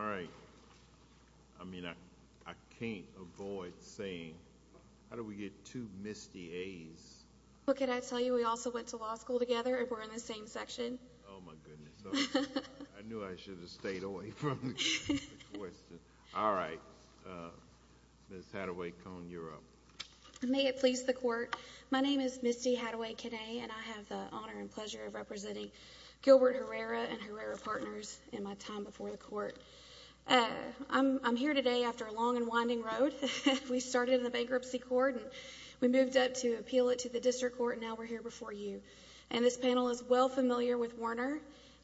All right. I mean, I can't avoid saying, how do we get two Misty A's? Well, can I tell you, we also went to law school together, and we're in the same section. Oh, my goodness. I knew I should have stayed away from the question. All right. Ms. Hathaway-Cohen, you're up. May it please the Court. My name is Misty Hathaway-Cohen, and I have the honor and pleasure of representing Gilbert Herrera and Herrera Partners in my time before the Court. I'm here today after a long and winding road. We started in the bankruptcy court, and we moved up to appeal it to the district court, and now we're here before you. And this panel is well familiar with Warner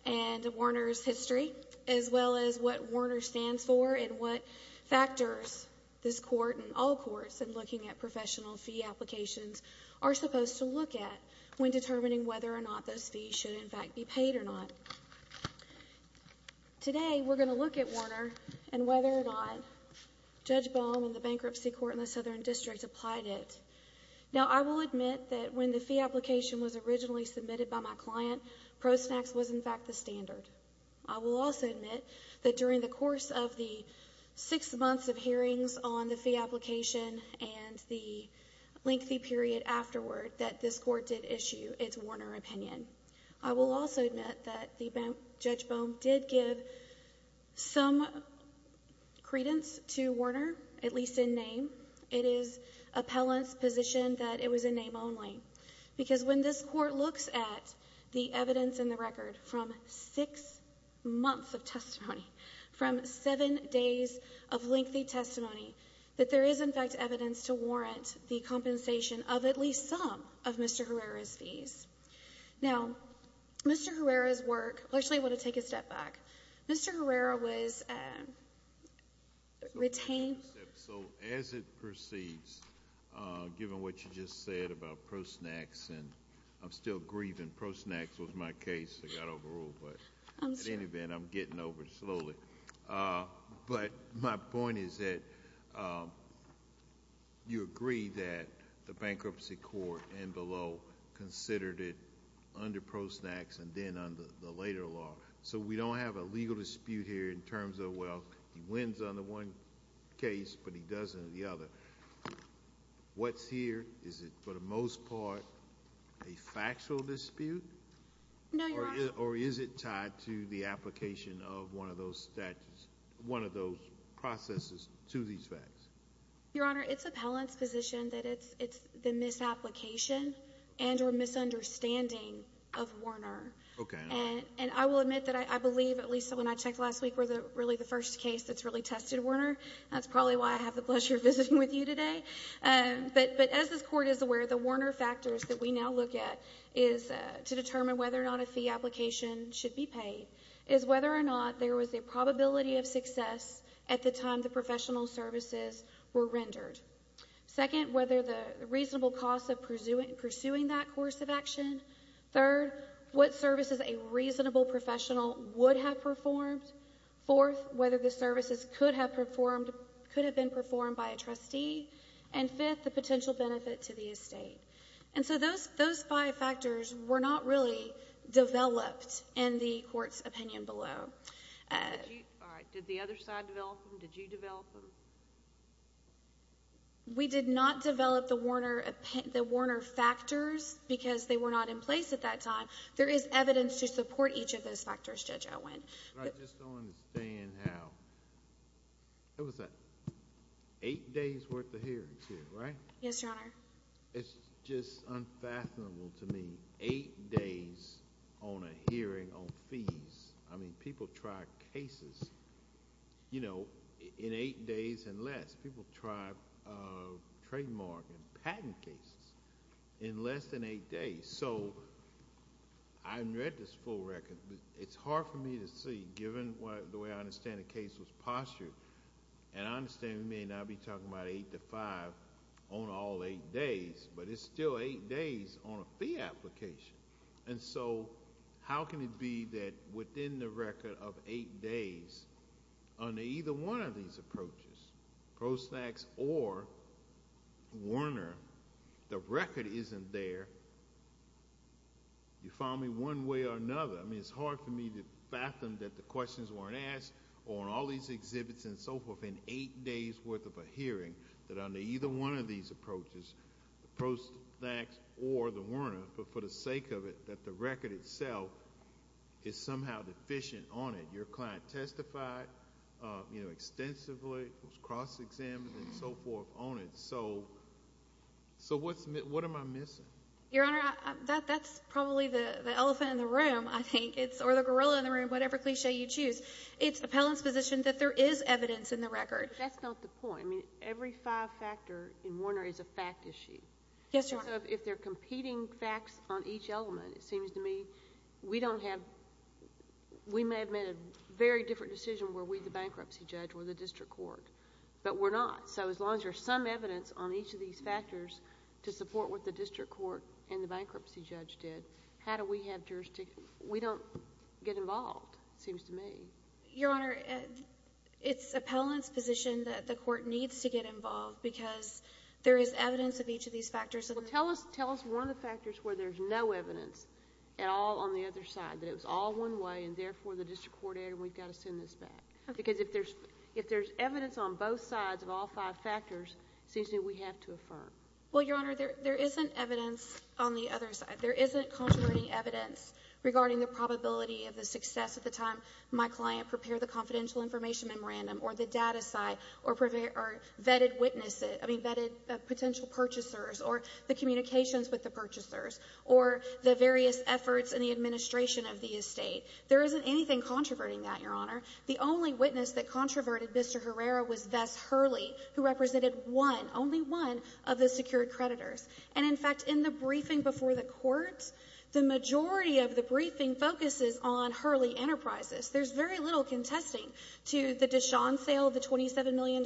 and Warner's history, as well as what Warner stands for and what factors this Court and all courts in looking at professional fee applications are supposed to look at when determining whether or not those fees should, in fact, be paid or not. Today, we're going to look at Warner and whether or not Judge Bohm and the bankruptcy court in the Southern District applied it. Now, I will admit that when the fee application was originally submitted by my client, pro sax was, in fact, the standard. I will also admit that during the course of the six months of hearings on the fee application and the lengthy period afterward that this Court did issue its Warner opinion. I will also admit that Judge Bohm did give some credence to Warner, at least in name. It is appellant's position that it was in name only, because when this Court looks at the evidence in the record from six months of testimony, from seven days of lengthy testimony, that there is, in fact, evidence to warrant the compensation of at least some of Mr. Herrera's fees. Now, Mr. Herrera's work—actually, I want to take a step back. Mr. Herrera was retained— As it proceeds, given what you just said about pro sax, and I'm still grieving. Pro sax was my case that got overruled. I'm sorry. At any event, I'm getting over it slowly. My point is that you agree that the bankruptcy court and below considered it under pro sax and then under the later law. We don't have a legal dispute here in terms of, well, he wins on the one case, but he doesn't on the other. What's here? Is it, for the most part, a factual dispute? No, Your Honor. Or is it tied to the application of one of those statutes, one of those processes to these facts? Your Honor, it's appellant's position that it's the misapplication and or misunderstanding of Warner. Okay. And I will admit that I believe, at least when I checked last week, we're really the first case that's really tested Warner. That's probably why I have the pleasure of visiting with you today. But as this Court is aware, the Warner factors that we now look at is to determine whether or not a fee application should be paid, is whether or not there was a probability of success at the time the professional services were rendered. Second, whether the reasonable professional would have performed. Fourth, whether the services could have been performed by a trustee. And fifth, the potential benefit to the estate. And so those five factors were not really developed in the Court's opinion below. All right. Did the other side develop them? Did you develop them? We did not develop the Warner factors because they were not in place at that time. There is evidence to support each of those factors, Judge Owen. But I just don't understand how... What was that? Eight days worth of hearings here, right? Yes, Your Honor. It's just unfathomable to me, eight days on a hearing on fees. I mean, people try cases, you know, in eight days and less. People try trademark and patent cases in less than eight days. So I haven't read this full record, but it's hard for me to see, given the way I understand the case was postured. And I understand we may not be talking about eight to five on all eight days, but it's still eight days on a fee application. And so how can it be that within the record of eight days, under either one of these approaches, post-fax or Warner, the record isn't there? You found me one way or another. I mean, it's hard for me to fathom that the questions weren't asked on all these exhibits and so forth in eight days' worth of a hearing that under either one of these approaches, the post-fax or the Warner, but for the sake of it, that the record itself is somehow deficient on it. Your client testified extensively, was cross-examined and so forth on it. So what am I missing? Your Honor, that's probably the elephant in the room, I think, or the gorilla in the room, whatever cliche you choose. It's appellant's position that there is evidence in the record. But that's not the point. I mean, every five-factor in Warner is a fact issue. Yes, Your Honor. If they're competing facts on each element, it seems to me we don't have, we may have made a very different decision were we the bankruptcy judge or the district court, but we're not. So as long as there's some evidence on each of these factors to support what the district court and the bankruptcy judge did, how do we have jurisdiction? We don't get involved, it seems to me. Your Honor, it's appellant's position that the court needs to get involved because there is evidence of each of these factors. Well, tell us one of the factors where there's no evidence at all on the other side, that it was all one way and therefore the district court, and we've got to send this back. Okay. Because if there's evidence on both sides of all five factors, it seems to me we have to affirm. Well, Your Honor, there isn't evidence on the other side. There isn't contributing evidence regarding the probability of the success at the time my client prepared the or the communications with the purchasers, or the various efforts in the administration of the estate. There isn't anything controverting that, Your Honor. The only witness that controverted Mr. Herrera was Vess Hurley, who represented one, only one of the secured creditors. And in fact, in the briefing before the court, the majority of the briefing focuses on Hurley Enterprises. There's very little contesting to the DeShawn sale of the $27 million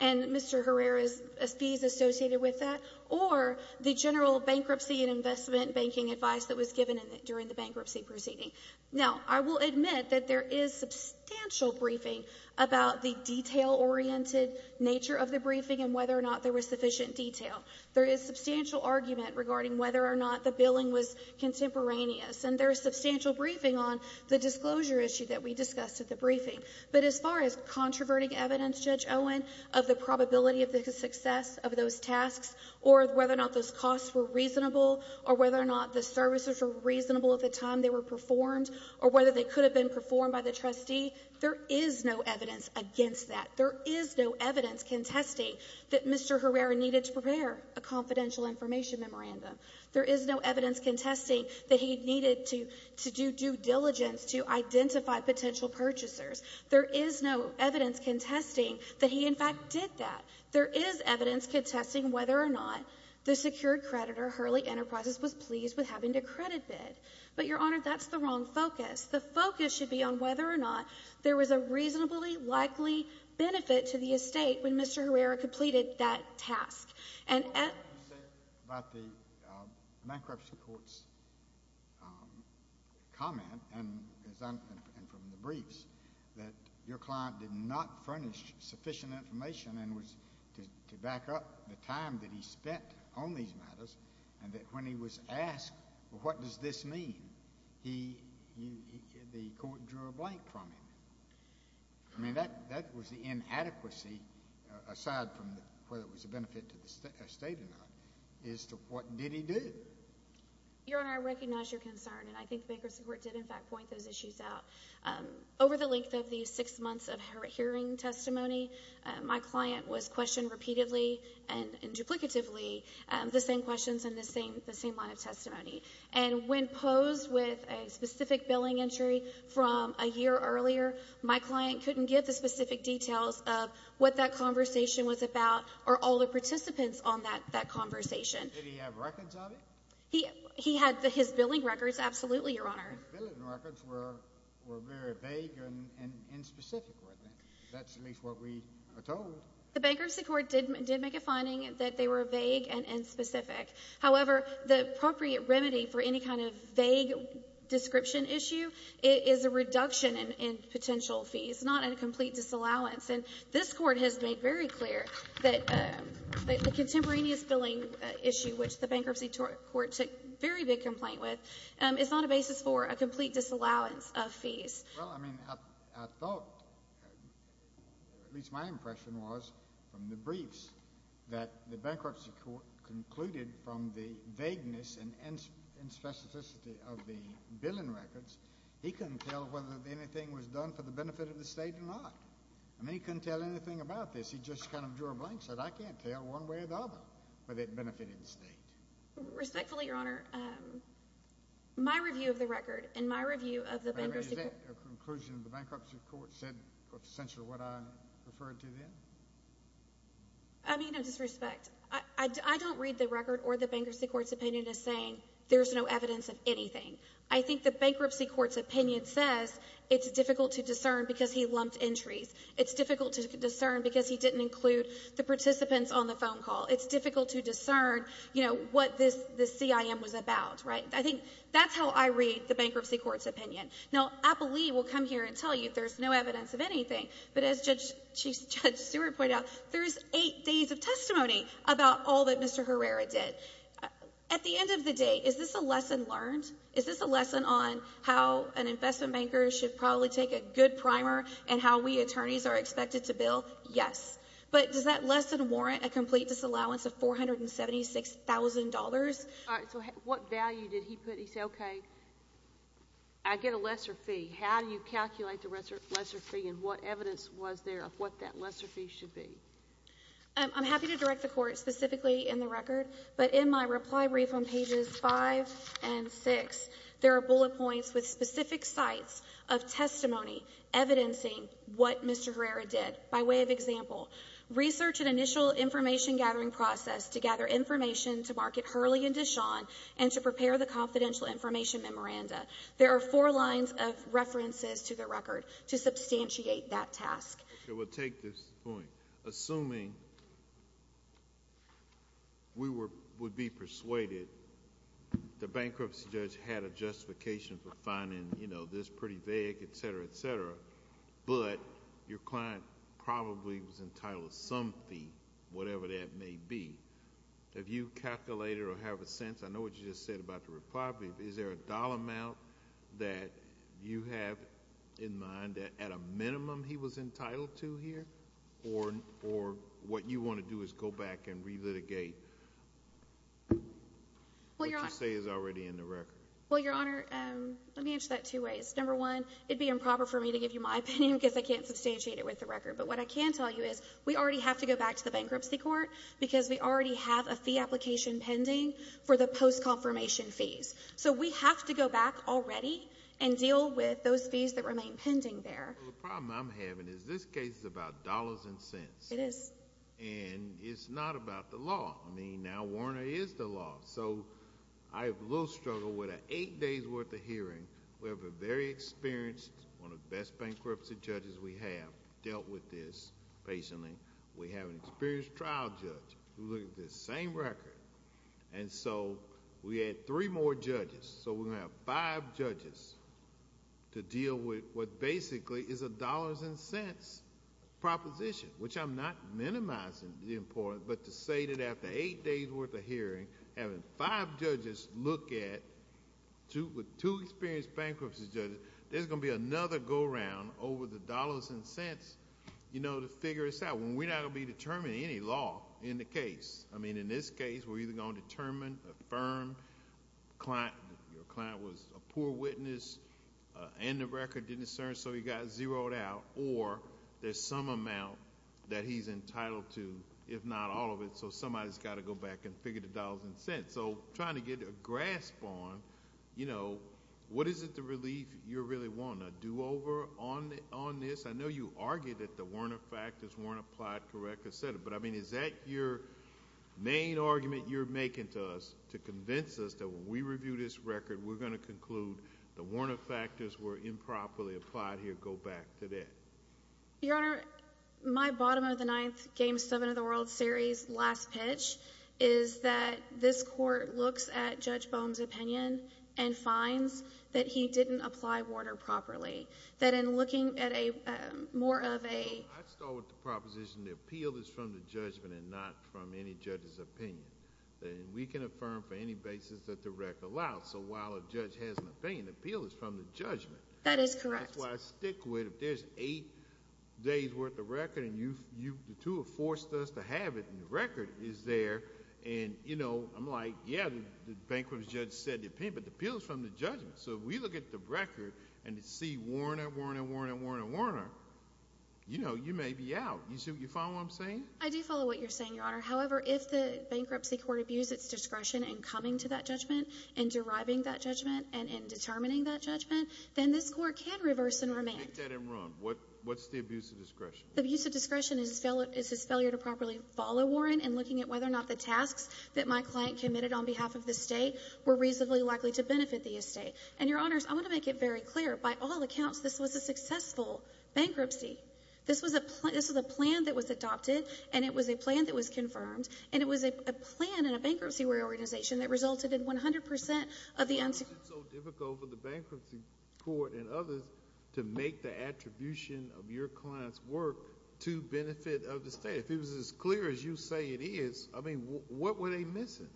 and Mr. Herrera's fees associated with that, or the general bankruptcy and investment banking advice that was given during the bankruptcy proceeding. Now, I will admit that there is substantial briefing about the detail-oriented nature of the briefing and whether or not there was sufficient detail. There is substantial argument regarding whether or not the billing was contemporaneous, and there is substantial briefing on the disclosure issue that we discussed at the briefing. But as far as controverting evidence, Judge Owen, of the probability of the success of those tasks, or whether or not those costs were reasonable, or whether or not the services were reasonable at the time they were performed, or whether they could have been performed by the trustee, there is no evidence against that. There is no evidence contesting that Mr. Herrera needed to prepare a confidential information memorandum. There is no evidence contesting that he needed to do due diligence to identify potential purchasers. There is no evidence contesting that he, in fact, did that. There is evidence contesting whether or not the secured creditor, Hurley Enterprises, was pleased with having to credit bid. But, Your Honor, that's the wrong focus. The focus should be on whether or not there was a reasonably likely benefit to the estate when Mr. Herrera completed that task. You said about the bankruptcy court's comment and from the briefs that your client did not furnish sufficient information and was to back up the time that he spent on these matters and that when he was asked, what does this mean, the court drew a blank from him. I mean, that was the inadequacy, aside from whether it was a benefit to the estate or not, as to what did he do. Your Honor, I recognize your concern, and I think the bankruptcy court did, in fact, point those issues out. Over the length of the six months of hearing testimony, my client was questioned repeatedly and duplicatively the same questions and the same line of testimony. And when posed with a specific billing entry from a year earlier, my client couldn't get the specific details of what that conversation was about or all the participants on that conversation. Did he have records of it? He had his billing records, absolutely, Your Honor. His billing records were very vague and inspecific. That's at least what we are told. The bankruptcy court did make a finding that they were vague and inspecific. However, the appropriate remedy for any kind of vague description issue is a reduction in potential fees, not a complete disallowance. And this Court has made very clear that the contemporaneous billing issue, which the bankruptcy court took very big complaint with, is not a basis for a complete disallowance of fees. Well, I mean, I thought, at least my impression was from the briefs that the bankruptcy court concluded from the vagueness and inspecificity of the billing records, he couldn't tell whether anything was done for the benefit of the State or not. I mean, he couldn't tell anything about this. He just kind of drew a blank, said, I can't tell one way or the other whether it benefited the State. Respectfully, Your Honor, my review of the record and my review of the bankruptcy court But, I mean, is that a conclusion the bankruptcy court said, essentially, what I referred to then? I mean, no disrespect, I don't read the record or the bankruptcy court's opinion as saying there's no evidence of anything. I think the bankruptcy court's opinion says it's difficult to discern because he lumped entries. It's difficult to discern because he didn't include the participants on the phone call. It's difficult to discern, you know, what this CIM was about, right? I think that's how I read the bankruptcy court's opinion. Now, Appleby will come here and tell you there's no evidence of anything, but as Judge Stewart pointed out, there's eight days of testimony about all that Mr. Herrera did. At the end of the day, is this a lesson learned? Is this a lesson on how an investment banker should probably take a good primer and how we attorneys are expected to bill? Yes. But does that lesson warrant a complete disallowance of $476,000? All right, so what value did he put? He said, okay, I get a lesser fee. How do you calculate the lesser fee and what evidence was there of what that lesser fee should be? I'm happy to direct the court specifically in the record, but in my reply brief on pages five and six, there are bullet points with specific sites of testimony evidencing what Mr. Herrera did by way of example. Research and initial information gathering process to gather information to market Hurley and DeShawn and to prepare the confidential information memoranda. There are four lines of references to the record to substantiate that task. Okay, we'll take this point. Assuming we would be persuaded the bankruptcy judge had a justification for finding this pretty vague, et cetera, et cetera, but your client probably was entitled to some fee, whatever that may be. Have you calculated or have a sense? I know what you just said about the reply brief. Is there a dollar amount that you have in mind that at a minimum he was entitled to here or what you want to do is go back and relitigate? What you say is already in the record. Well, Your Honor, let me answer that two ways. Number one, it'd be improper for me to give you my opinion because I can't substantiate it with the record, but what I can tell you is we already have to go back to the bankruptcy court because we already have a fee application pending for the post-confirmation fees. We have to go back already and deal with those fees that remain pending there. The problem I'm having is this case is about dollars and cents. It is. It's not about the law. I mean, now Warner is the law. I have a little struggle with an eight days worth of hearing. We have a very experienced, one of the best bankruptcy judges we have dealt with this patiently. We have an experienced trial judge who looked at this same record. We had three more judges. We're going to have five judges to deal with what basically is a dollars and cents proposition, which I'm not minimizing the importance, but to say that after eight days worth of hearing, having five judges look at two experienced bankruptcy judges, there's going to be another go around over the dollars and cents to figure this out. We're not going to be determining any law in the case. I mean, in this case, we're either going to determine, affirm, your client was a poor witness and the record didn't serve, so he got zeroed out, or there's some amount that he's entitled to, if not all of it, so somebody's got to go back and figure the dollars and cents. Trying to get a grasp on what is it the relief you really want to do over on this. I know you argued that the Warner factors weren't applied correctly, but is that your main argument you're making to us to convince us that when we review this record, we're going to conclude the Warner factors were improperly applied here, go back to that? Your Honor, my bottom of the ninth Game 7 of the World Series last pitch is that this court looks at Judge Bohm's opinion and finds that he didn't apply Warner properly, that in looking at more of a... I start with the proposition the appeal is from the judgment and not from any judge's opinion. We can affirm for any basis that the record allows, so while a judge has an opinion, the appeal is from the judgment. That is correct. That's why I stick with if there's eight days worth of record and the two have forced us to have it and the record is there, and I'm like, yeah, the bankruptcy judge said the Warner, Warner, Warner, Warner, you know, you may be out. You follow what I'm saying? I do follow what you're saying, Your Honor. However, if the bankruptcy court abused its discretion in coming to that judgment, in deriving that judgment, and in determining that judgment, then this court can reverse and remand. Take that and run. What's the abuse of discretion? The abuse of discretion is his failure to properly follow Warren in looking at whether or not the tasks that my client committed on behalf of the estate were reasonably likely to benefit the estate. And, Your Honors, I want to make it very clear, by all accounts, this was a successful bankruptcy. This was a plan that was adopted, and it was a plan that was confirmed, and it was a plan in a bankruptcy organization that resulted in 100 percent of the unsecured... Why was it so difficult for the bankruptcy court and others to make the attribution of your client's work to benefit of the estate? If it was as clear as you say it is, I mean, what were they missing?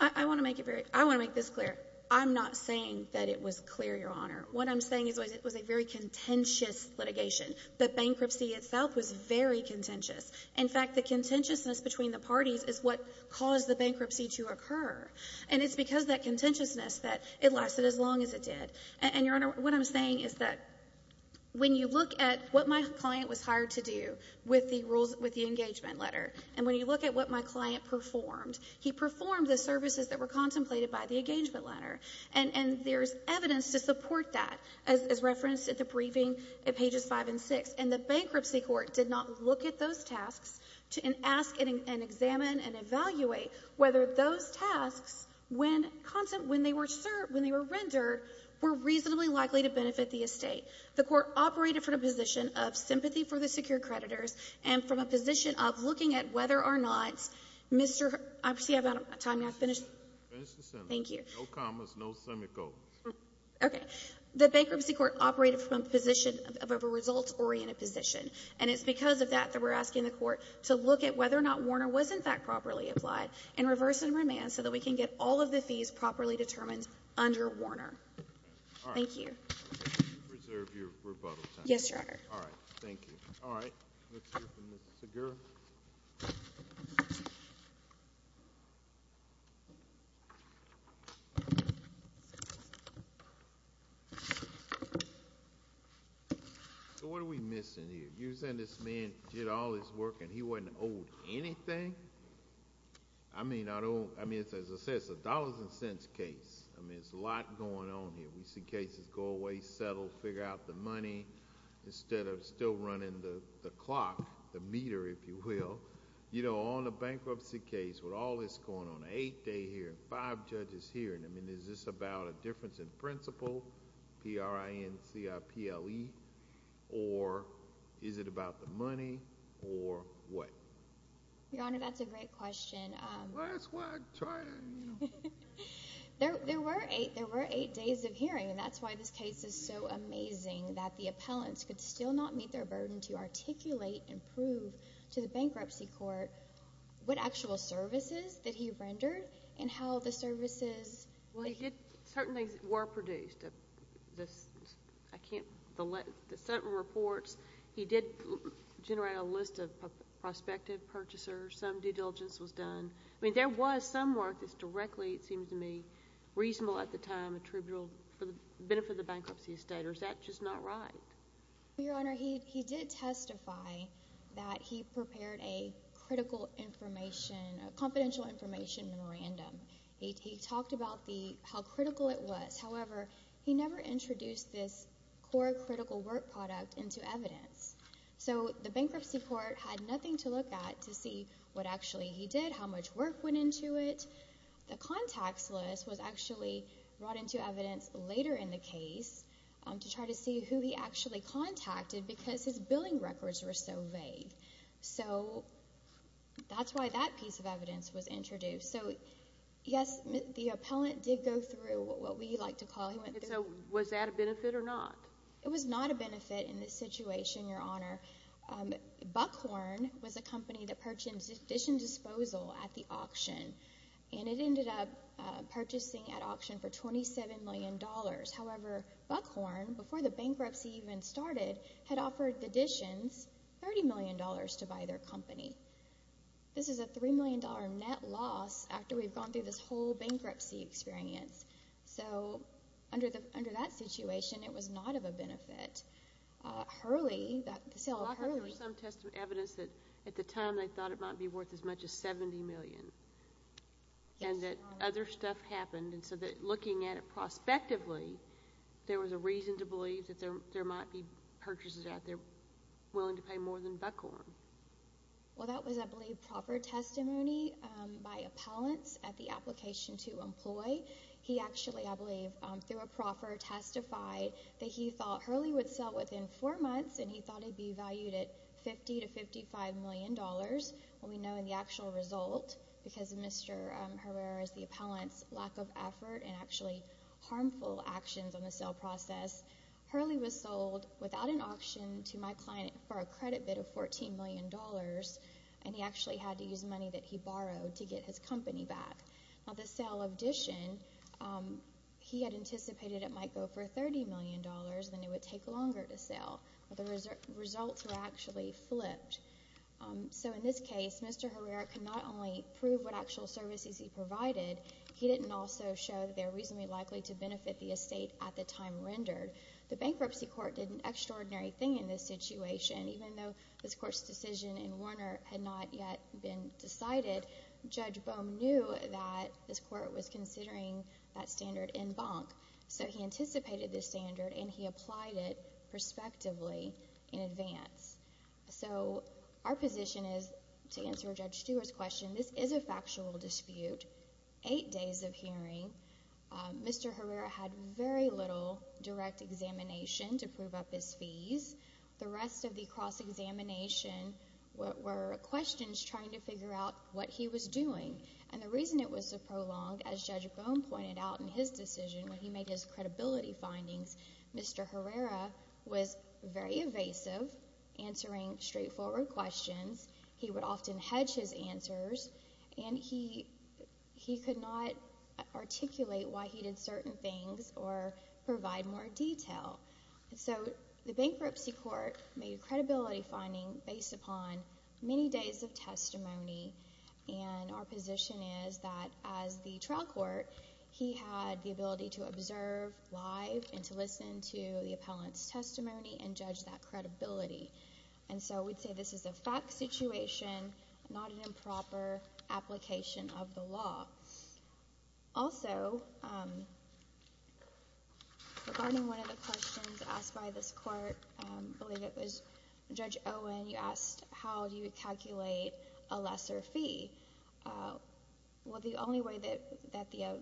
I want to make it very... I want to make this clear. I'm not saying that it was clear, Your Honor. What I'm saying is it was a very contentious litigation. The bankruptcy itself was very contentious. In fact, the contentiousness between the parties is what caused the bankruptcy to occur. And it's because of that contentiousness that it lasted as long as it did. And, Your Honor, what I'm saying is that when you look at what my client was hired to do with the rules... with the engagement letter, and when you look at what my client performed, he performed the services that were contemplated by the engagement letter. And there's evidence to support that, as referenced at the briefing at pages 5 and 6. And the bankruptcy court did not look at those tasks and ask and examine and evaluate whether those tasks, when they were rendered, were reasonably likely to benefit the estate. The court operated from a position of sympathy for the secured creditors and from a position of looking at whether or not Mr.... Finish the sentence. Thank you. No commas, no semicolons. Okay. The bankruptcy court operated from a position of a results-oriented position. And it's because of that that we're asking the court to look at whether or not Warner was, in fact, properly applied and reverse and remand so that we can get all of the fees properly determined under Warner. All right. Thank you. Reserve your rebuttal time. Yes, Your Honor. All right. Thank you. All right. Let's hear from Ms. Segura. So what are we missing here? You're saying this man did all this work and he wasn't owed anything? I mean, as I said, it's a dollars and cents case. I mean, there's a lot going on here. We see cases go away, settle, figure out the money, instead of still running the clock, the meter, if you will. You know, on a bankruptcy case, with all this going on, eight-day hearing, five judges hearing, I mean, is this about a difference in principle, P-R-I-N-C-I-P-L-E, or is it about the money, or what? Your Honor, that's a great question. That's what I'm trying to... There were eight days of hearing, and that's why this case is so amazing, that the appellants could still not meet their burden to articulate and prove to the witnesses that he rendered and how the services... Well, he did... certain things were produced. I can't... the settlement reports, he did generate a list of prospective purchasers, some due diligence was done. I mean, there was some work that's directly, it seems to me, reasonable at the time, attributable for the benefit of the bankruptcy estate, or is that just not right? Your Honor, he did testify that he prepared a critical information, a confidential information memorandum. He talked about how critical it was. However, he never introduced this core critical work product into evidence. So, the bankruptcy court had nothing to look at to see what actually he did, how much work went into it. The contacts list was actually brought into evidence later in the case to try to see who he actually contacted, because his billing records were so vague. So, that's why that piece of evidence was introduced. So, yes, the appellant did go through what we like to call... So, was that a benefit or not? It was not a benefit in this situation, Your Honor. Buckhorn was a company that purchased addition disposal at the auction, and it ended up purchasing at auction for $27 million. However, Buckhorn, before the bankruptcy even started, had offered the additions $30 million to buy their company. This is a $3 million net loss after we've gone through this whole bankruptcy experience. So, under that situation, it was not of a benefit. Hurley, the sale of Hurley... Well, I've heard some evidence that at the time they thought it might be worth as much as $70 million. Yes. And that other stuff happened, and so looking at it prospectively, there was a reason to believe that there might be purchases out there willing to pay more than Buckhorn. Well, that was, I believe, proper testimony by appellants at the application to employ. He actually, I believe, through a proffer, testified that he thought Hurley would sell within four months, and he thought it would be valued at $50 to $55 million. And we know in the actual result, because of Mr. Herrera's, the appellant's, lack of effort and actually harmful actions on the sale process, Hurley was sold without an auction to my client for a credit bid of $14 million, and he actually had to use money that he borrowed to get his company back. Now, the sale addition, he had anticipated it might go for $30 million, and it would take longer to sell, but the results were actually flipped. So in this case, Mr. Herrera could not only prove what actual services he provided, he didn't also show that they were reasonably likely to benefit the estate at the time rendered. The bankruptcy court did an extraordinary thing in this situation. Even though this court's decision in Warner had not yet been decided, Judge Bohm knew that this court was considering that standard in Bunk, so he considered it and he applied it prospectively in advance. So our position is, to answer Judge Stewart's question, this is a factual dispute, eight days of hearing. Mr. Herrera had very little direct examination to prove up his fees. The rest of the cross-examination were questions trying to figure out what he was doing. And the reason it was so prolonged, as Judge Bohm mentioned, Mr. Herrera was very evasive, answering straightforward questions. He would often hedge his answers, and he could not articulate why he did certain things or provide more detail. So the bankruptcy court made a credibility finding based upon many days of testimony, and our position is that, as the trial court, he had the ability to listen to the appellant's testimony and judge that credibility. And so we'd say this is a fact situation, not an improper application of the law. Also, regarding one of the questions asked by this court, I believe it was Judge Owen, you asked how do you calculate a lesser fee. Well, the only way that the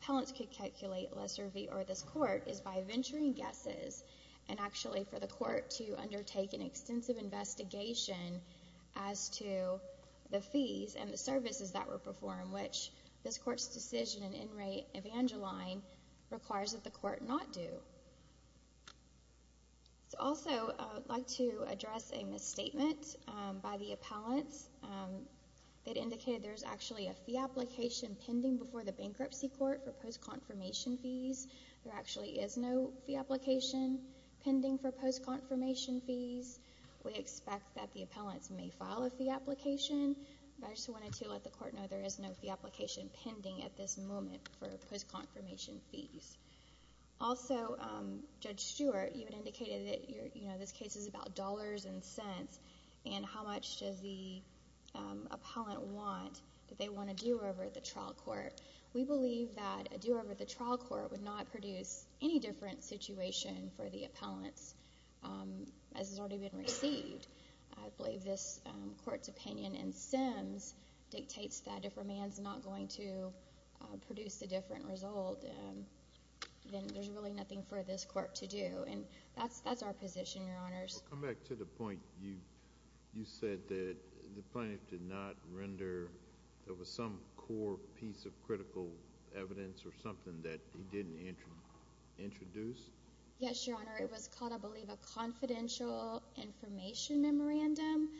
court can calculate a lesser fee or this court is by venturing guesses and actually for the court to undertake an extensive investigation as to the fees and the services that were performed, which this court's decision in in re evangeline requires that the court not do. Also, I'd like to address a misstatement by the appellant that indicated there's actually a fee application pending before the bankruptcy court for post-confirmation fees. There actually is no fee application pending for post-confirmation fees. We expect that the appellants may file a fee application, but I just wanted to let the court know there is no fee application pending at this moment for post-confirmation fees. Also, Judge Stewart, you had indicated that this case is about dollars and cents, and how much does the appellant want? Do they want a do-over at the trial court? We believe that a do-over at the trial court would not produce any different situation for the appellants as has already been received. I believe this court's opinion in Sims dictates that if a man's not going to produce a different result, then there's really nothing for this court to do, and that's our position, Your Honors. Well, come back to the point you said that the plaintiff did not render there was some core piece of critical evidence or something that he didn't introduce. Yes, Your Honor. It was called, I believe, a confidential information memorandum,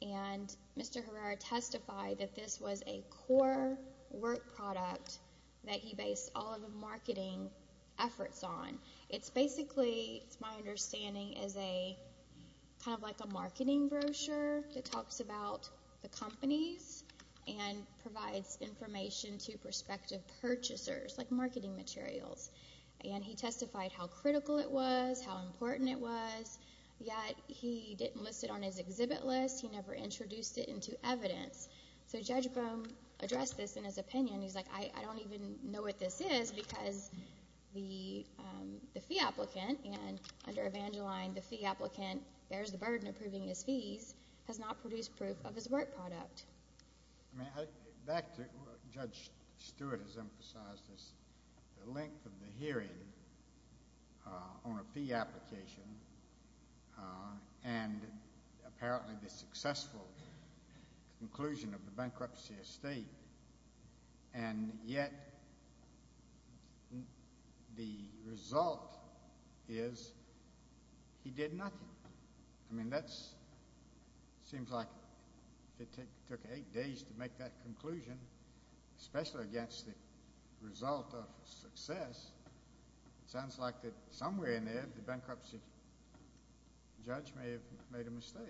and Mr. Herrera testified that this was a core work product that he based all of his marketing efforts on. It's basically, it's my understanding, is kind of like a marketing brochure that talks about the companies and provides information to prospective purchasers, like marketing materials. And he testified how critical it was, how important it was, yet he didn't list it on his exhibit list. He never introduced it into evidence. So Judge Bohm addressed this in his opinion. He's like, I don't even know what this is because the fee applicant, and under Evangeline, the fee applicant bears the burden of proving his fees, has not produced proof of his work product. Back to what Judge Stewart has emphasized is the length of the hearing on a fee application, and apparently the successful conclusion of the bankruptcy estate, and yet the result is he did nothing. I mean, that seems like it took eight days to make that conclusion, especially against the result of success. It sounds like somewhere in there the bankruptcy judge may have made a mistake.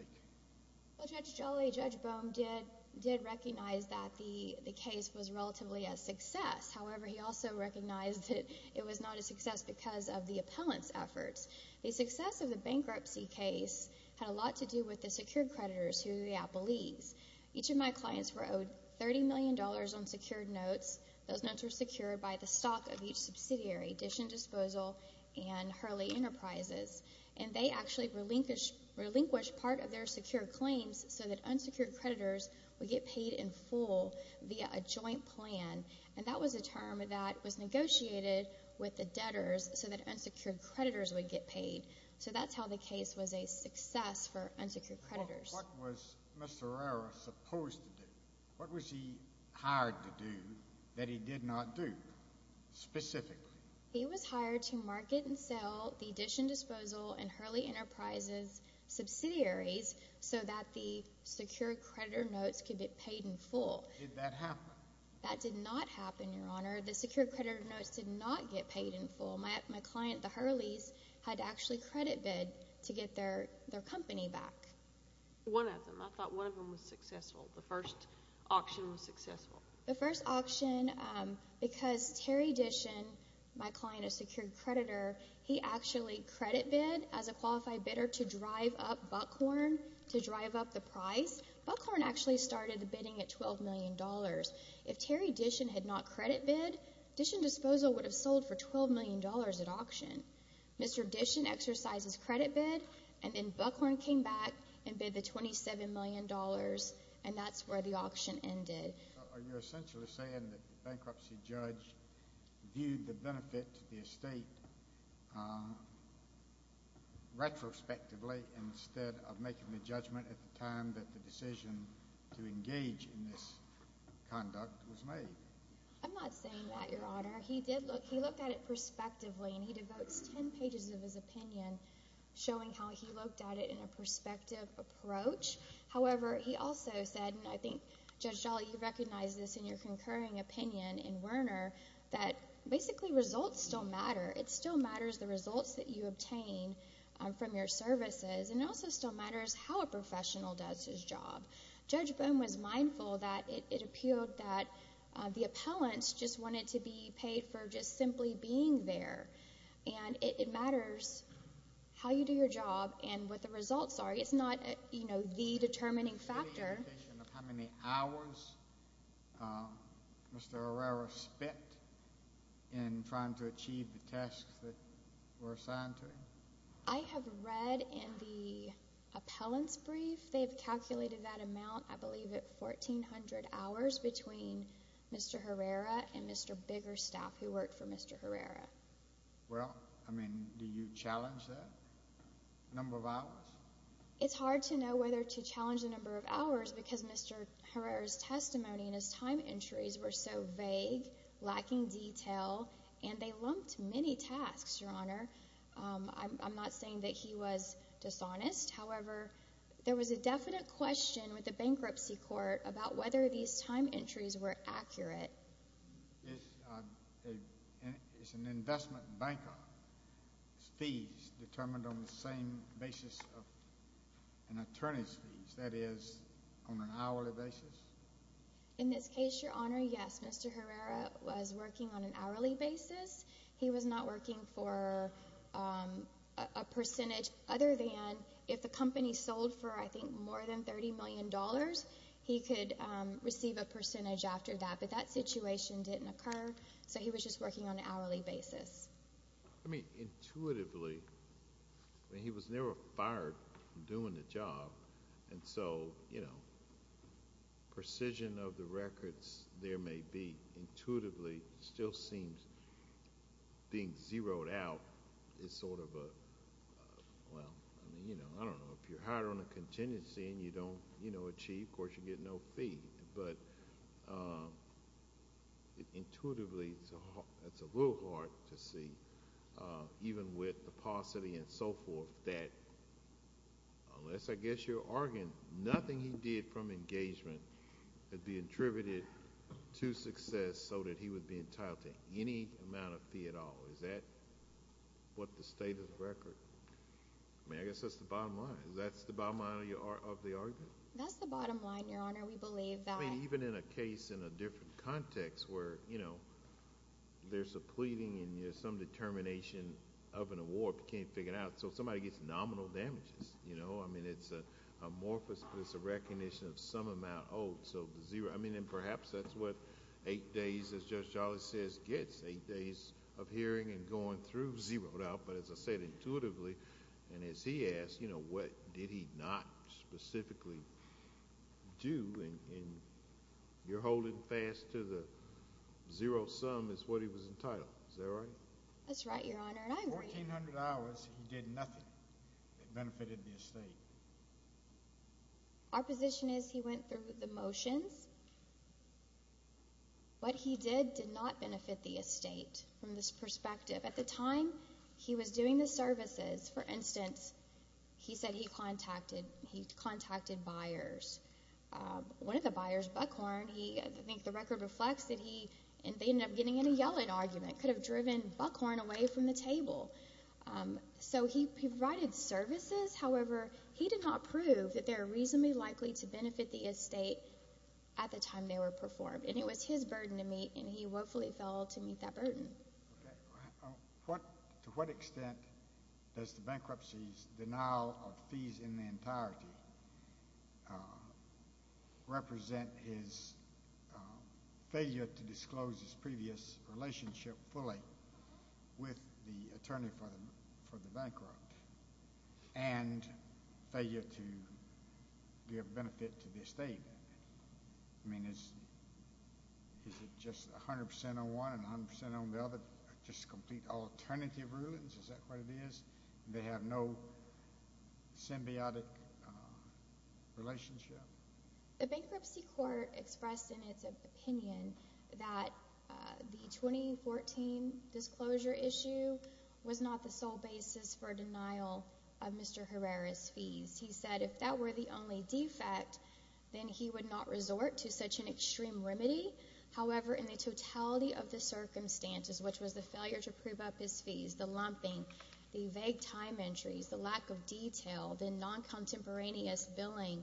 Well, Judge Jolly, Judge Bohm did recognize that the case was relatively a success. However, he also recognized that it was not a success because of the appellant's efforts. The success of the bankruptcy case had a lot to do with the secured creditors, who were the Applees. Each of my clients were owed $30 million on secured notes. Those notes were secured by the stock of each subsidiary, Dishon Disposal and Hurley Enterprises, and they actually relinquished part of their secured claims so that unsecured creditors would get paid in full via a joint plan, and that was a term that was negotiated with the debtors so that unsecured creditors would get paid. So that's how the case was a success for unsecured creditors. What was Mr. Herrera supposed to do? What was he hired to do that he did not do specifically? He was hired to market and sell the Dishon Disposal and Hurley Enterprises subsidiaries so that the secured creditor notes could get paid in full. Did that happen? That did not happen, Your Honor. The secured creditor notes did not get paid in full. My client, the Hurleys, had to actually credit bid to get their company back. One of them. I thought one of them was successful, the first auction was successful. The first auction, because Terry Dishon, my client, a secured creditor, he actually credit bid as a qualified bidder to drive up Buckhorn, to drive up the price. Buckhorn actually started the bidding at $12 million. If Terry Dishon had not credit bid, Dishon Disposal would have sold for $12 million at auction. Mr. Dishon exercised his credit bid, and then Buckhorn came back and bid the $27 million, and that's where the auction ended. Are you essentially saying that the bankruptcy judge viewed the benefit to the estate retrospectively instead of making the judgment at the time that the decision to engage in this conduct was made? I'm not saying that, Your Honor. He looked at it prospectively, and he devotes 10 pages of his opinion showing how he looked at it in a prospective approach. However, he also said, and I think, Judge Jolly, you recognize this in your concurring opinion in Werner, that basically results still matter. It still matters the results that you obtain from your services, and it also still matters how a professional does his job. Judge Boehm was mindful that it appealed that the appellants just wanted to be paid for just simply being there, and it matters how you do your job and what the results are. It's not, you know, the determining factor. Do you have any indication of how many hours Mr. Herrera spent in trying to achieve the tasks that were assigned to him? I have read in the appellant's brief they've calculated that amount, I believe it 1,400 hours between Mr. Herrera and Mr. Bigger's staff who worked for Mr. Herrera. Well, I mean, do you challenge that number of hours? It's hard to know whether to challenge the number of hours because Mr. Herrera's testimony and his time entries were so vague, lacking detail, and they lumped many tasks, Your Honor. I'm not saying that he was dishonest. However, there was a definite question with the bankruptcy court about whether these time entries were accurate. Is an investment banker's fees determined on the same basis of an attorney's fees, that is, on an hourly basis? In this case, Your Honor, yes. Mr. Herrera was working on an hourly basis. He was not working for a percentage other than if the company sold for, I think, more than $30 million, he could receive a percentage after that. But that situation didn't occur, so he was just working on an hourly basis. I mean, intuitively, he was never fired from doing the job, and so precision of the records there may be intuitively still seems being zeroed out is sort of a—well, I don't know. If you're hired on a contingency and you don't achieve, of course, you get no fee. But intuitively, it's a little hard to see, even with the paucity and so forth, that unless, I guess, you're arguing nothing he did from engagement would be attributed to success so that he would be entitled to any amount of fee at all. Is that what the state of the record—I mean, I guess that's the bottom line. Is that the bottom line of the argument? That's the bottom line, Your Honor. We believe that— I mean, even in a case in a different context where there's a pleading and there's some determination of an award but can't figure it out. So somebody gets nominal damages. I mean, it's amorphous, but it's a recognition of some amount owed. So the zero—I mean, and perhaps that's what eight days, as Judge Charlie says, gets, eight days of hearing and going through, zeroed out. But as I said, intuitively, and as he asked, what did he not specifically do? And you're holding fast to the zero sum is what he was entitled. Is that right? That's right, Your Honor, and I agree. Fourteen hundred hours, he did nothing that benefited the estate. Our position is he went through the motions. What he did did not benefit the estate from this perspective. At the time he was doing the services, for instance, he said he contacted— one of the buyers, Buckhorn, he—I think the record reflects that he— and they ended up getting in a yelling argument, could have driven Buckhorn away from the table. So he provided services. However, he did not prove that they were reasonably likely to benefit the estate at the time they were performed, and it was his burden to meet, and he woefully fell to meet that burden. To what extent does the bankruptcy's denial of fees in their entirety represent his failure to disclose his previous relationship fully with the attorney for the bankrupt and failure to give benefit to the estate? I mean, is it just 100% on one and 100% on the other, just complete alternative rulings? Is that what it is? They have no symbiotic relationship? The bankruptcy court expressed in its opinion that the 2014 disclosure issue was not the sole basis for denial of Mr. Herrera's fees. He said if that were the only defect, then he would not resort to such an extreme remedy. However, in the totality of the circumstances, which was the failure to prove up his fees, the lumping, the vague time entries, the lack of detail, the non-contemporaneous billing,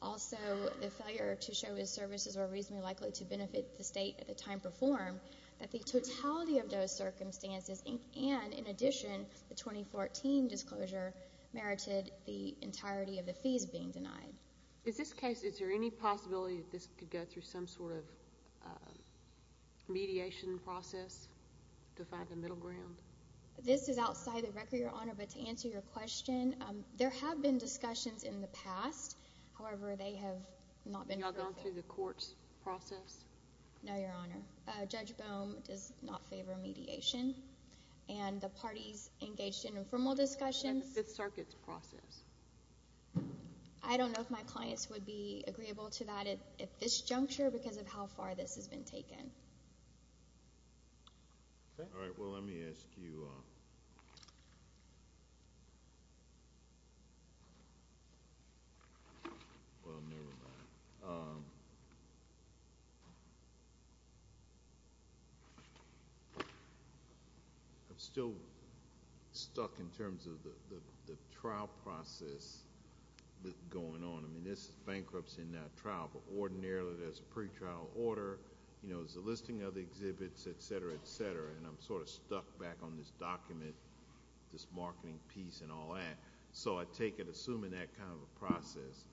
also the failure to show his services were reasonably likely to benefit the estate at the time performed, that the totality of those circumstances and, in addition, the 2014 disclosure merited the entirety of the fees being denied. In this case, is there any possibility that this could go through some sort of mediation process to find a middle ground? This is outside the record, Your Honor, but to answer your question, there have been discussions in the past. However, they have not been perfect. Have you gone through the court's process? No, Your Honor. Judge Bohm does not favor mediation, and the parties engaged in informal discussions. What about the Fifth Circuit's process? I don't know if my clients would be agreeable to that at this juncture because of how far this has been taken. All right. Well, let me ask you—well, never mind. I'm still stuck in terms of the trial process going on. I mean, there's bankruptcy in that trial, but ordinarily there's a pretrial order. There's a listing of the exhibits, et cetera, et cetera, and I'm sort of stuck back on this document, this marketing piece and all that. I take it, assuming that kind of a process,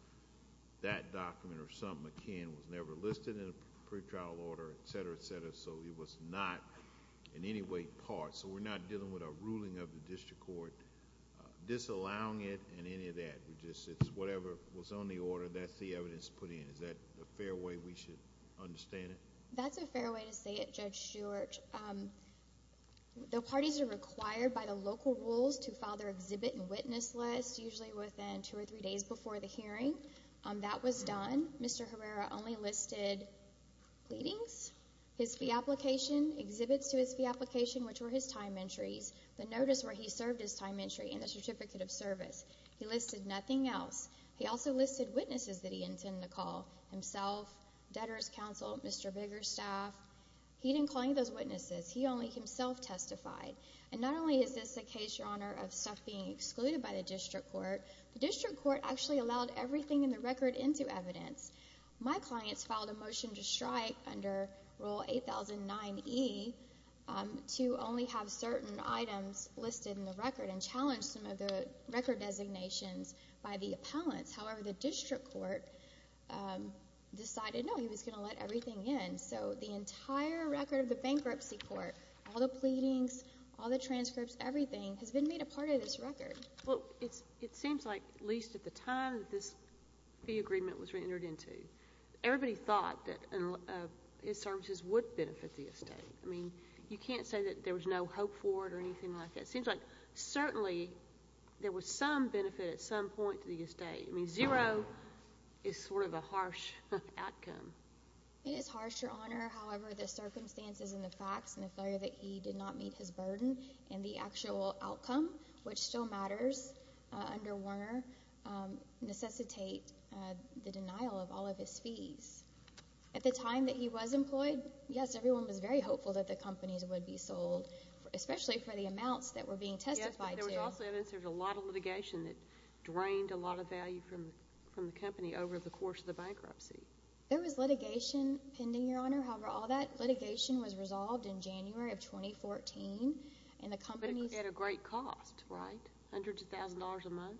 that document or something akin was never listed in a pretrial order, et cetera, et cetera, so it was not in any way part. We're not dealing with a ruling of the district court disallowing it and any of that. It's whatever was on the order, that's the evidence put in. Is that a fair way we should understand it? That's a fair way to say it, Judge Stewart. The parties are required by the local rules to file their exhibit and witness list, usually within two or three days before the hearing. That was done. Mr. Herrera only listed pleadings, his fee application, exhibits to his fee application, which were his time entries, the notice where he served his time entry, and the certificate of service. He listed nothing else. He also listed witnesses that he intended to call, himself, debtors' counsel, Mr. Bigger's staff. He didn't call any of those witnesses. He only himself testified. And not only is this a case, Your Honor, of stuff being excluded by the district court, the district court actually allowed everything in the record into evidence. My clients filed a motion to strike under Rule 8009E to only have certain items listed in the record and challenge some of the record designations by the appellants. However, the district court decided, no, he was going to let everything in. So the entire record of the bankruptcy court, all the pleadings, all the transcripts, everything has been made a part of this record. Well, it seems like, at least at the time that this fee agreement was reentered into, everybody thought that his services would benefit the estate. I mean, you can't say that there was no hope for it or anything like that. It seems like certainly there was some benefit at some point to the estate. I mean, zero is sort of a harsh outcome. It is harsh, Your Honor. However, the circumstances and the facts and the failure that he did not meet his burden and the actual outcome, which still matters under Warner, necessitate the denial of all of his fees. At the time that he was employed, yes, everyone was very hopeful that the companies would be sold, especially for the amounts that were being testified to. Yes, but there was also evidence there was a lot of litigation that drained a lot of value from the company over the course of the bankruptcy. There was litigation pending, Your Honor. However, all that litigation was resolved in January of 2014, and the companies— But at a great cost, right? Hundreds of thousands of dollars a month?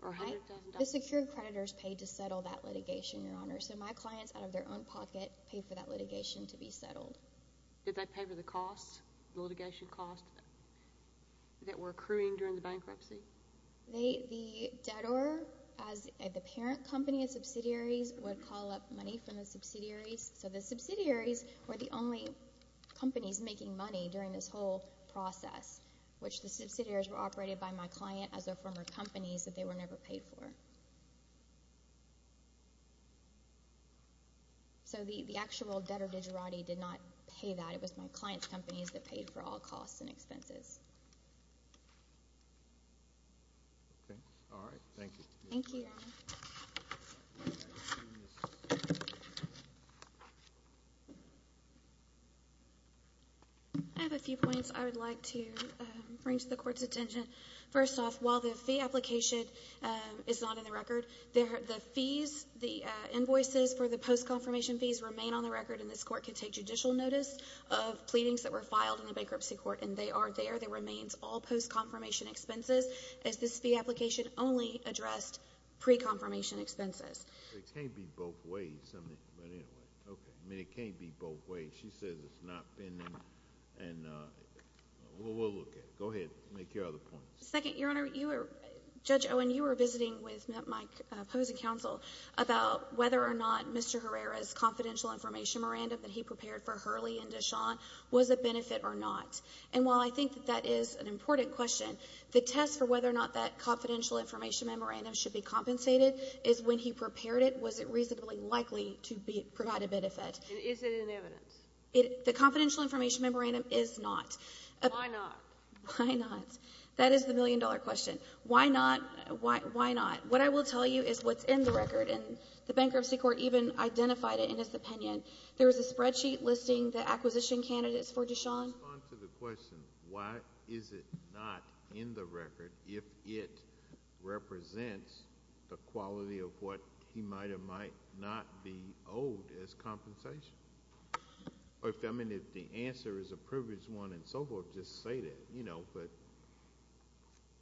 Right. Or hundreds of thousands of dollars? The secure creditors paid to settle that litigation, Your Honor. So my clients, out of their own pocket, paid for that litigation to be settled. Did they pay for the costs, the litigation costs that were accruing during the bankruptcy? The debtor, as the parent company of subsidiaries, would call up money from the subsidiaries. So the subsidiaries were the only companies making money during this whole process, which the subsidiaries were operated by my client as their former companies that they were never paid for. So the actual debtor did not pay that. It was my client's companies that paid for all costs and expenses. Okay. All right. Thank you. Thank you, Your Honor. I have a few points I would like to bring to the Court's attention. First off, while the fee application is not in the record, the fees, the invoices for the post-confirmation fees remain on the record, and this Court can take judicial notice of pleadings that were filed in the bankruptcy court, and they are there. They remain all post-confirmation expenses, as this fee application only addressed pre-confirmation expenses. It can't be both ways, but anyway. Okay. I mean, it can't be both ways. She says it's not pending, and we'll look at it. Go ahead. Make your other points. Second, Your Honor, Judge Owen, you were visiting with my opposing counsel about whether or not Mr. Herrera's confidential information memorandum that he prepared for Hurley and Deshaun was a benefit or not. And while I think that that is an important question, the test for whether or not that confidential information memorandum should be compensated is when he prepared it, was it reasonably likely to provide a benefit? And is it in evidence? The confidential information memorandum is not. Why not? Why not? That is the million-dollar question. Why not? Why not? What I will tell you is what's in the record, and the bankruptcy court even identified it in its opinion. There is a spreadsheet listing the acquisition candidates for Deshaun. Respond to the question, why is it not in the record if it represents the quality of what he might or might not be owed as compensation? I mean, if the answer is a privileged one and so forth, just say that, you know, but.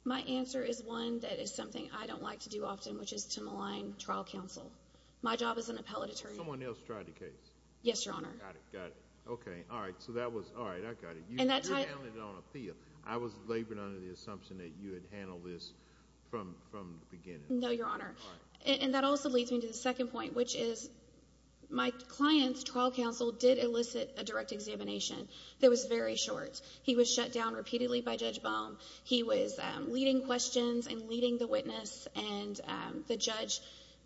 My answer is one that is something I don't like to do often, which is to malign trial counsel. My job as an appellate attorney. Someone else tried the case. Yes, Your Honor. Got it, got it. Okay, all right, so that was, all right, I got it. And that time. You downed it on appeal. I was laboring under the assumption that you had handled this from the beginning. No, Your Honor. All right. And that also leads me to the second point, which is my client's trial counsel did elicit a direct examination that was very short. He was shut down repeatedly by Judge Baum. He was leading questions and leading the witness, and the judge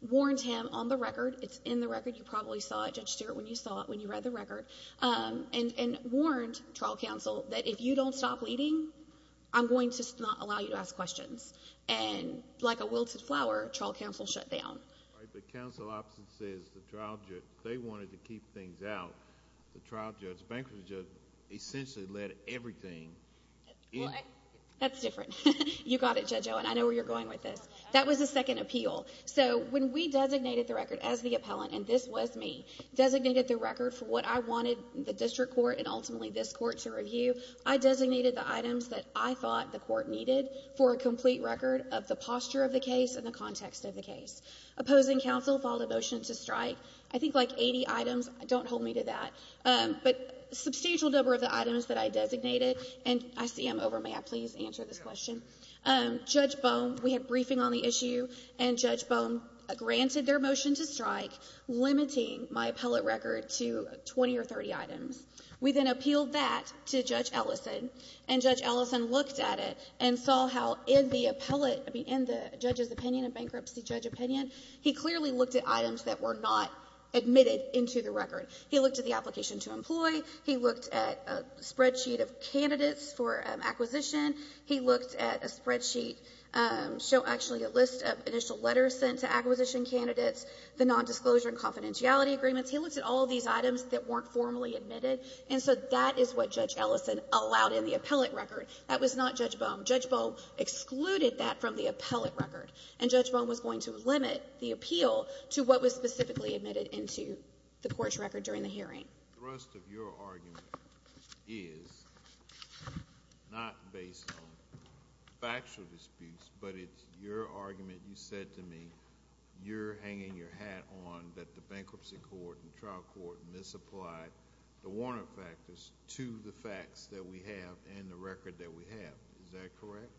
warned him on the record. It's in the record. You probably saw it, Judge Stewart, when you saw it, when you read the record, and warned trial counsel that if you don't stop leading, I'm going to not allow you to ask questions. And like a wilted flower, trial counsel shut down. All right, but counsel often says the trial judge, they wanted to keep things out. The trial judge, bankruptcy judge, essentially led everything. That's different. You got it, Judge Owen. I know where you're going with this. That was a second appeal. So when we designated the record as the appellant, and this was me, designated the record for what I wanted the district court and ultimately this court to review, I designated the items that I thought the court needed for a complete record of the posture of the case and the context of the case. Opposing counsel filed a motion to strike, I think like 80 items. Don't hold me to that. But a substantial number of the items that I designated, and I see I'm over. May I please answer this question? Judge Baum, we had briefing on the issue, and Judge Baum granted their motion to strike, limiting my appellate record to 20 or 30 items. We then appealed that to Judge Ellison, and Judge Ellison looked at it and saw how in the appellate, in the judge's opinion, a bankruptcy judge opinion, he clearly looked at items that were not admitted into the record. He looked at the application to employ. He looked at a spreadsheet of candidates for acquisition. He looked at a spreadsheet, actually a list of initial letters sent to acquisition candidates, the nondisclosure and confidentiality agreements. He looked at all of these items that weren't formally admitted, and so that is what Judge Ellison allowed in the appellate record. That was not Judge Baum. Judge Baum excluded that from the appellate record, and Judge Baum was going to limit the appeal to what was specifically admitted into the court's record during the hearing. The rest of your argument is not based on factual disputes, but it's your argument. You said to me you're hanging your hat on that the bankruptcy court and trial court misapplied the Warner factors to the facts that we have and the record that we have. Is that correct?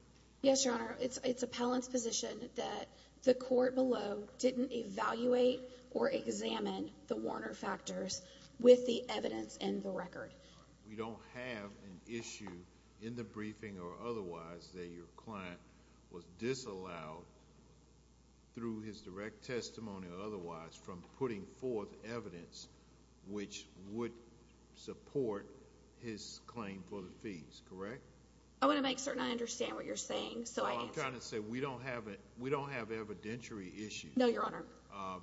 Yes, Your Honor. It's appellant's position that the court below didn't evaluate or examine the Warner factors with the evidence in the record. We don't have an issue in the briefing or otherwise that your client was disallowed through his direct testimony or otherwise from putting forth evidence which would support his claim for the fees, correct? I want to make certain I understand what you're saying, so I can answer. I'm trying to say we don't have evidentiary issues. No, Your Honor.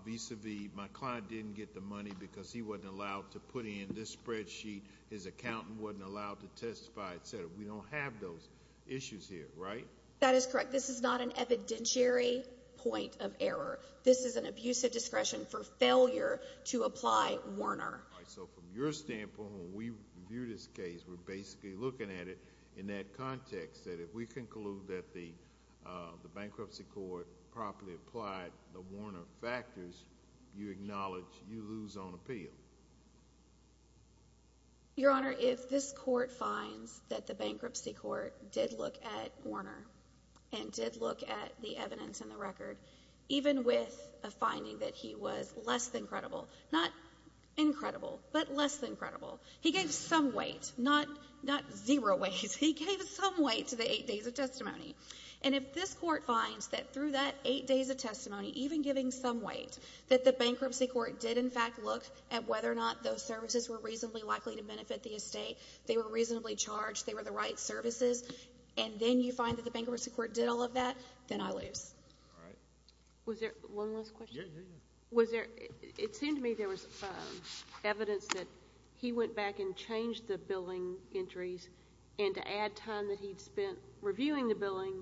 Vis-a-vis my client didn't get the money because he wasn't allowed to put in this spreadsheet, his accountant wasn't allowed to testify, etc. We don't have those issues here, right? That is correct. Your Honor, this is not an evidentiary point of error. This is an abusive discretion for failure to apply Warner. All right, so from your standpoint, when we view this case, we're basically looking at it in that context that if we conclude that the bankruptcy court properly applied the Warner factors, you acknowledge you lose on appeal. Your Honor, if this court finds that the bankruptcy court did look at Warner and did look at the evidence in the record, even with a finding that he was less than credible, not incredible, but less than credible, he gave some weight, not zero weight, he gave some weight to the eight days of testimony. And if this court finds that through that eight days of testimony, even giving some weight, that the bankruptcy court did in fact look at whether or not those services were reasonably likely to benefit the estate, they were reasonably charged, they were the right services, and then you find that the bankruptcy court did all of that, then I lose. All right. Was there one last question? Yeah, yeah, yeah. It seemed to me there was evidence that he went back and changed the billing entries and to add time that he'd spent reviewing the billing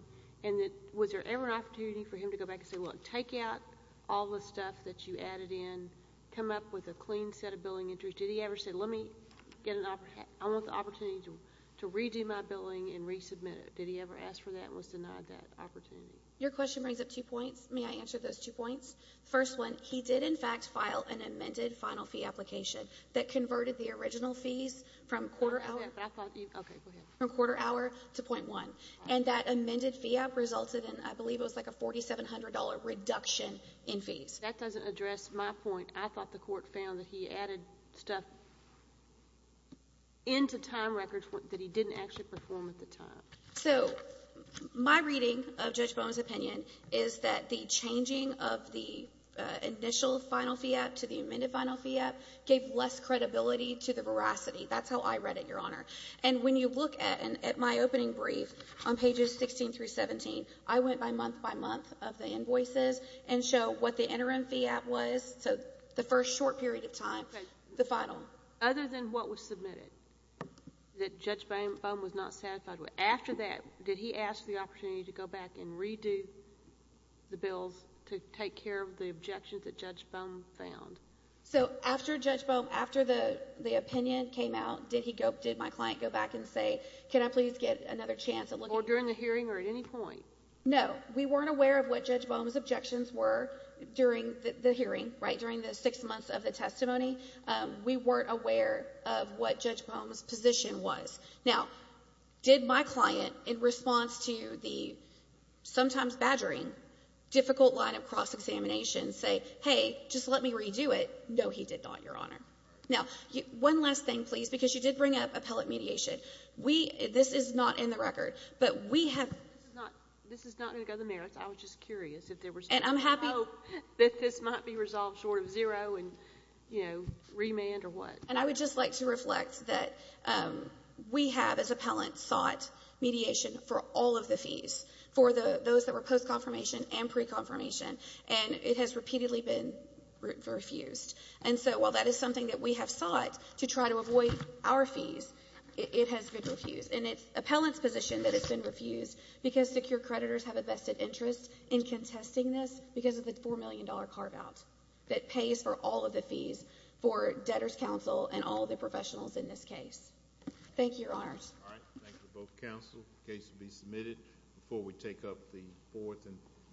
and that was there ever an opportunity for him to go back and say, well, take out all the stuff that you added in, come up with a clean set of billing entries. Did he ever say, let me get an opportunity to redo my billing and resubmit it? Did he ever ask for that and was denied that opportunity? Your question brings up two points. May I answer those two points? The first one, he did in fact file an amended final fee application that converted the original fees from quarter hour to .1. And that amended fee app resulted in, I believe it was like a $4,700 reduction in fees. That doesn't address my point. I thought the court found that he added stuff into time records that he didn't actually perform at the time. So my reading of Judge Bowen's opinion is that the changing of the initial final fee app to the amended final fee app gave less credibility to the veracity. That's how I read it, Your Honor. And when you look at my opening brief on pages 16 through 17, I went by month by month of the invoices and show what the interim fee app was. So the first short period of time, the final. Okay. Other than what was submitted that Judge Bowen was not satisfied with. After that, did he ask for the opportunity to go back and redo the bills to take care of the objections that Judge Bowen found? So after Judge Bowen, after the opinion came out, did he go, did my client go back and say, can I please get another chance? Or during the hearing or at any point? No. We weren't aware of what Judge Bowen's objections were during the hearing, right, during the six months of the testimony. We weren't aware of what Judge Bowen's position was. Now, did my client, in response to the sometimes badgering, difficult line of cross-examination, say, hey, just let me redo it? No, he did not, Your Honor. Now, one last thing, please, because you did bring up appellate mediation. We, this is not in the record, but we have. This is not going to go to the merits. I was just curious if there was hope that this might be resolved short of zero and, you know, remand or what. And I would just like to reflect that we have, as appellants, sought mediation for all of the fees, for those that were post-confirmation and pre-confirmation, and it has repeatedly been refused. And so while that is something that we have sought to try to avoid our fees, it has been refused. And it's appellants' position that it's been refused because secure creditors have a vested interest in contesting this because of the $4 million carve-out that pays for all of the fees for debtors' counsel and all the professionals in this case. Thank you, Your Honors. All right. Thank you to both counsel. The case will be submitted before we take up the fourth.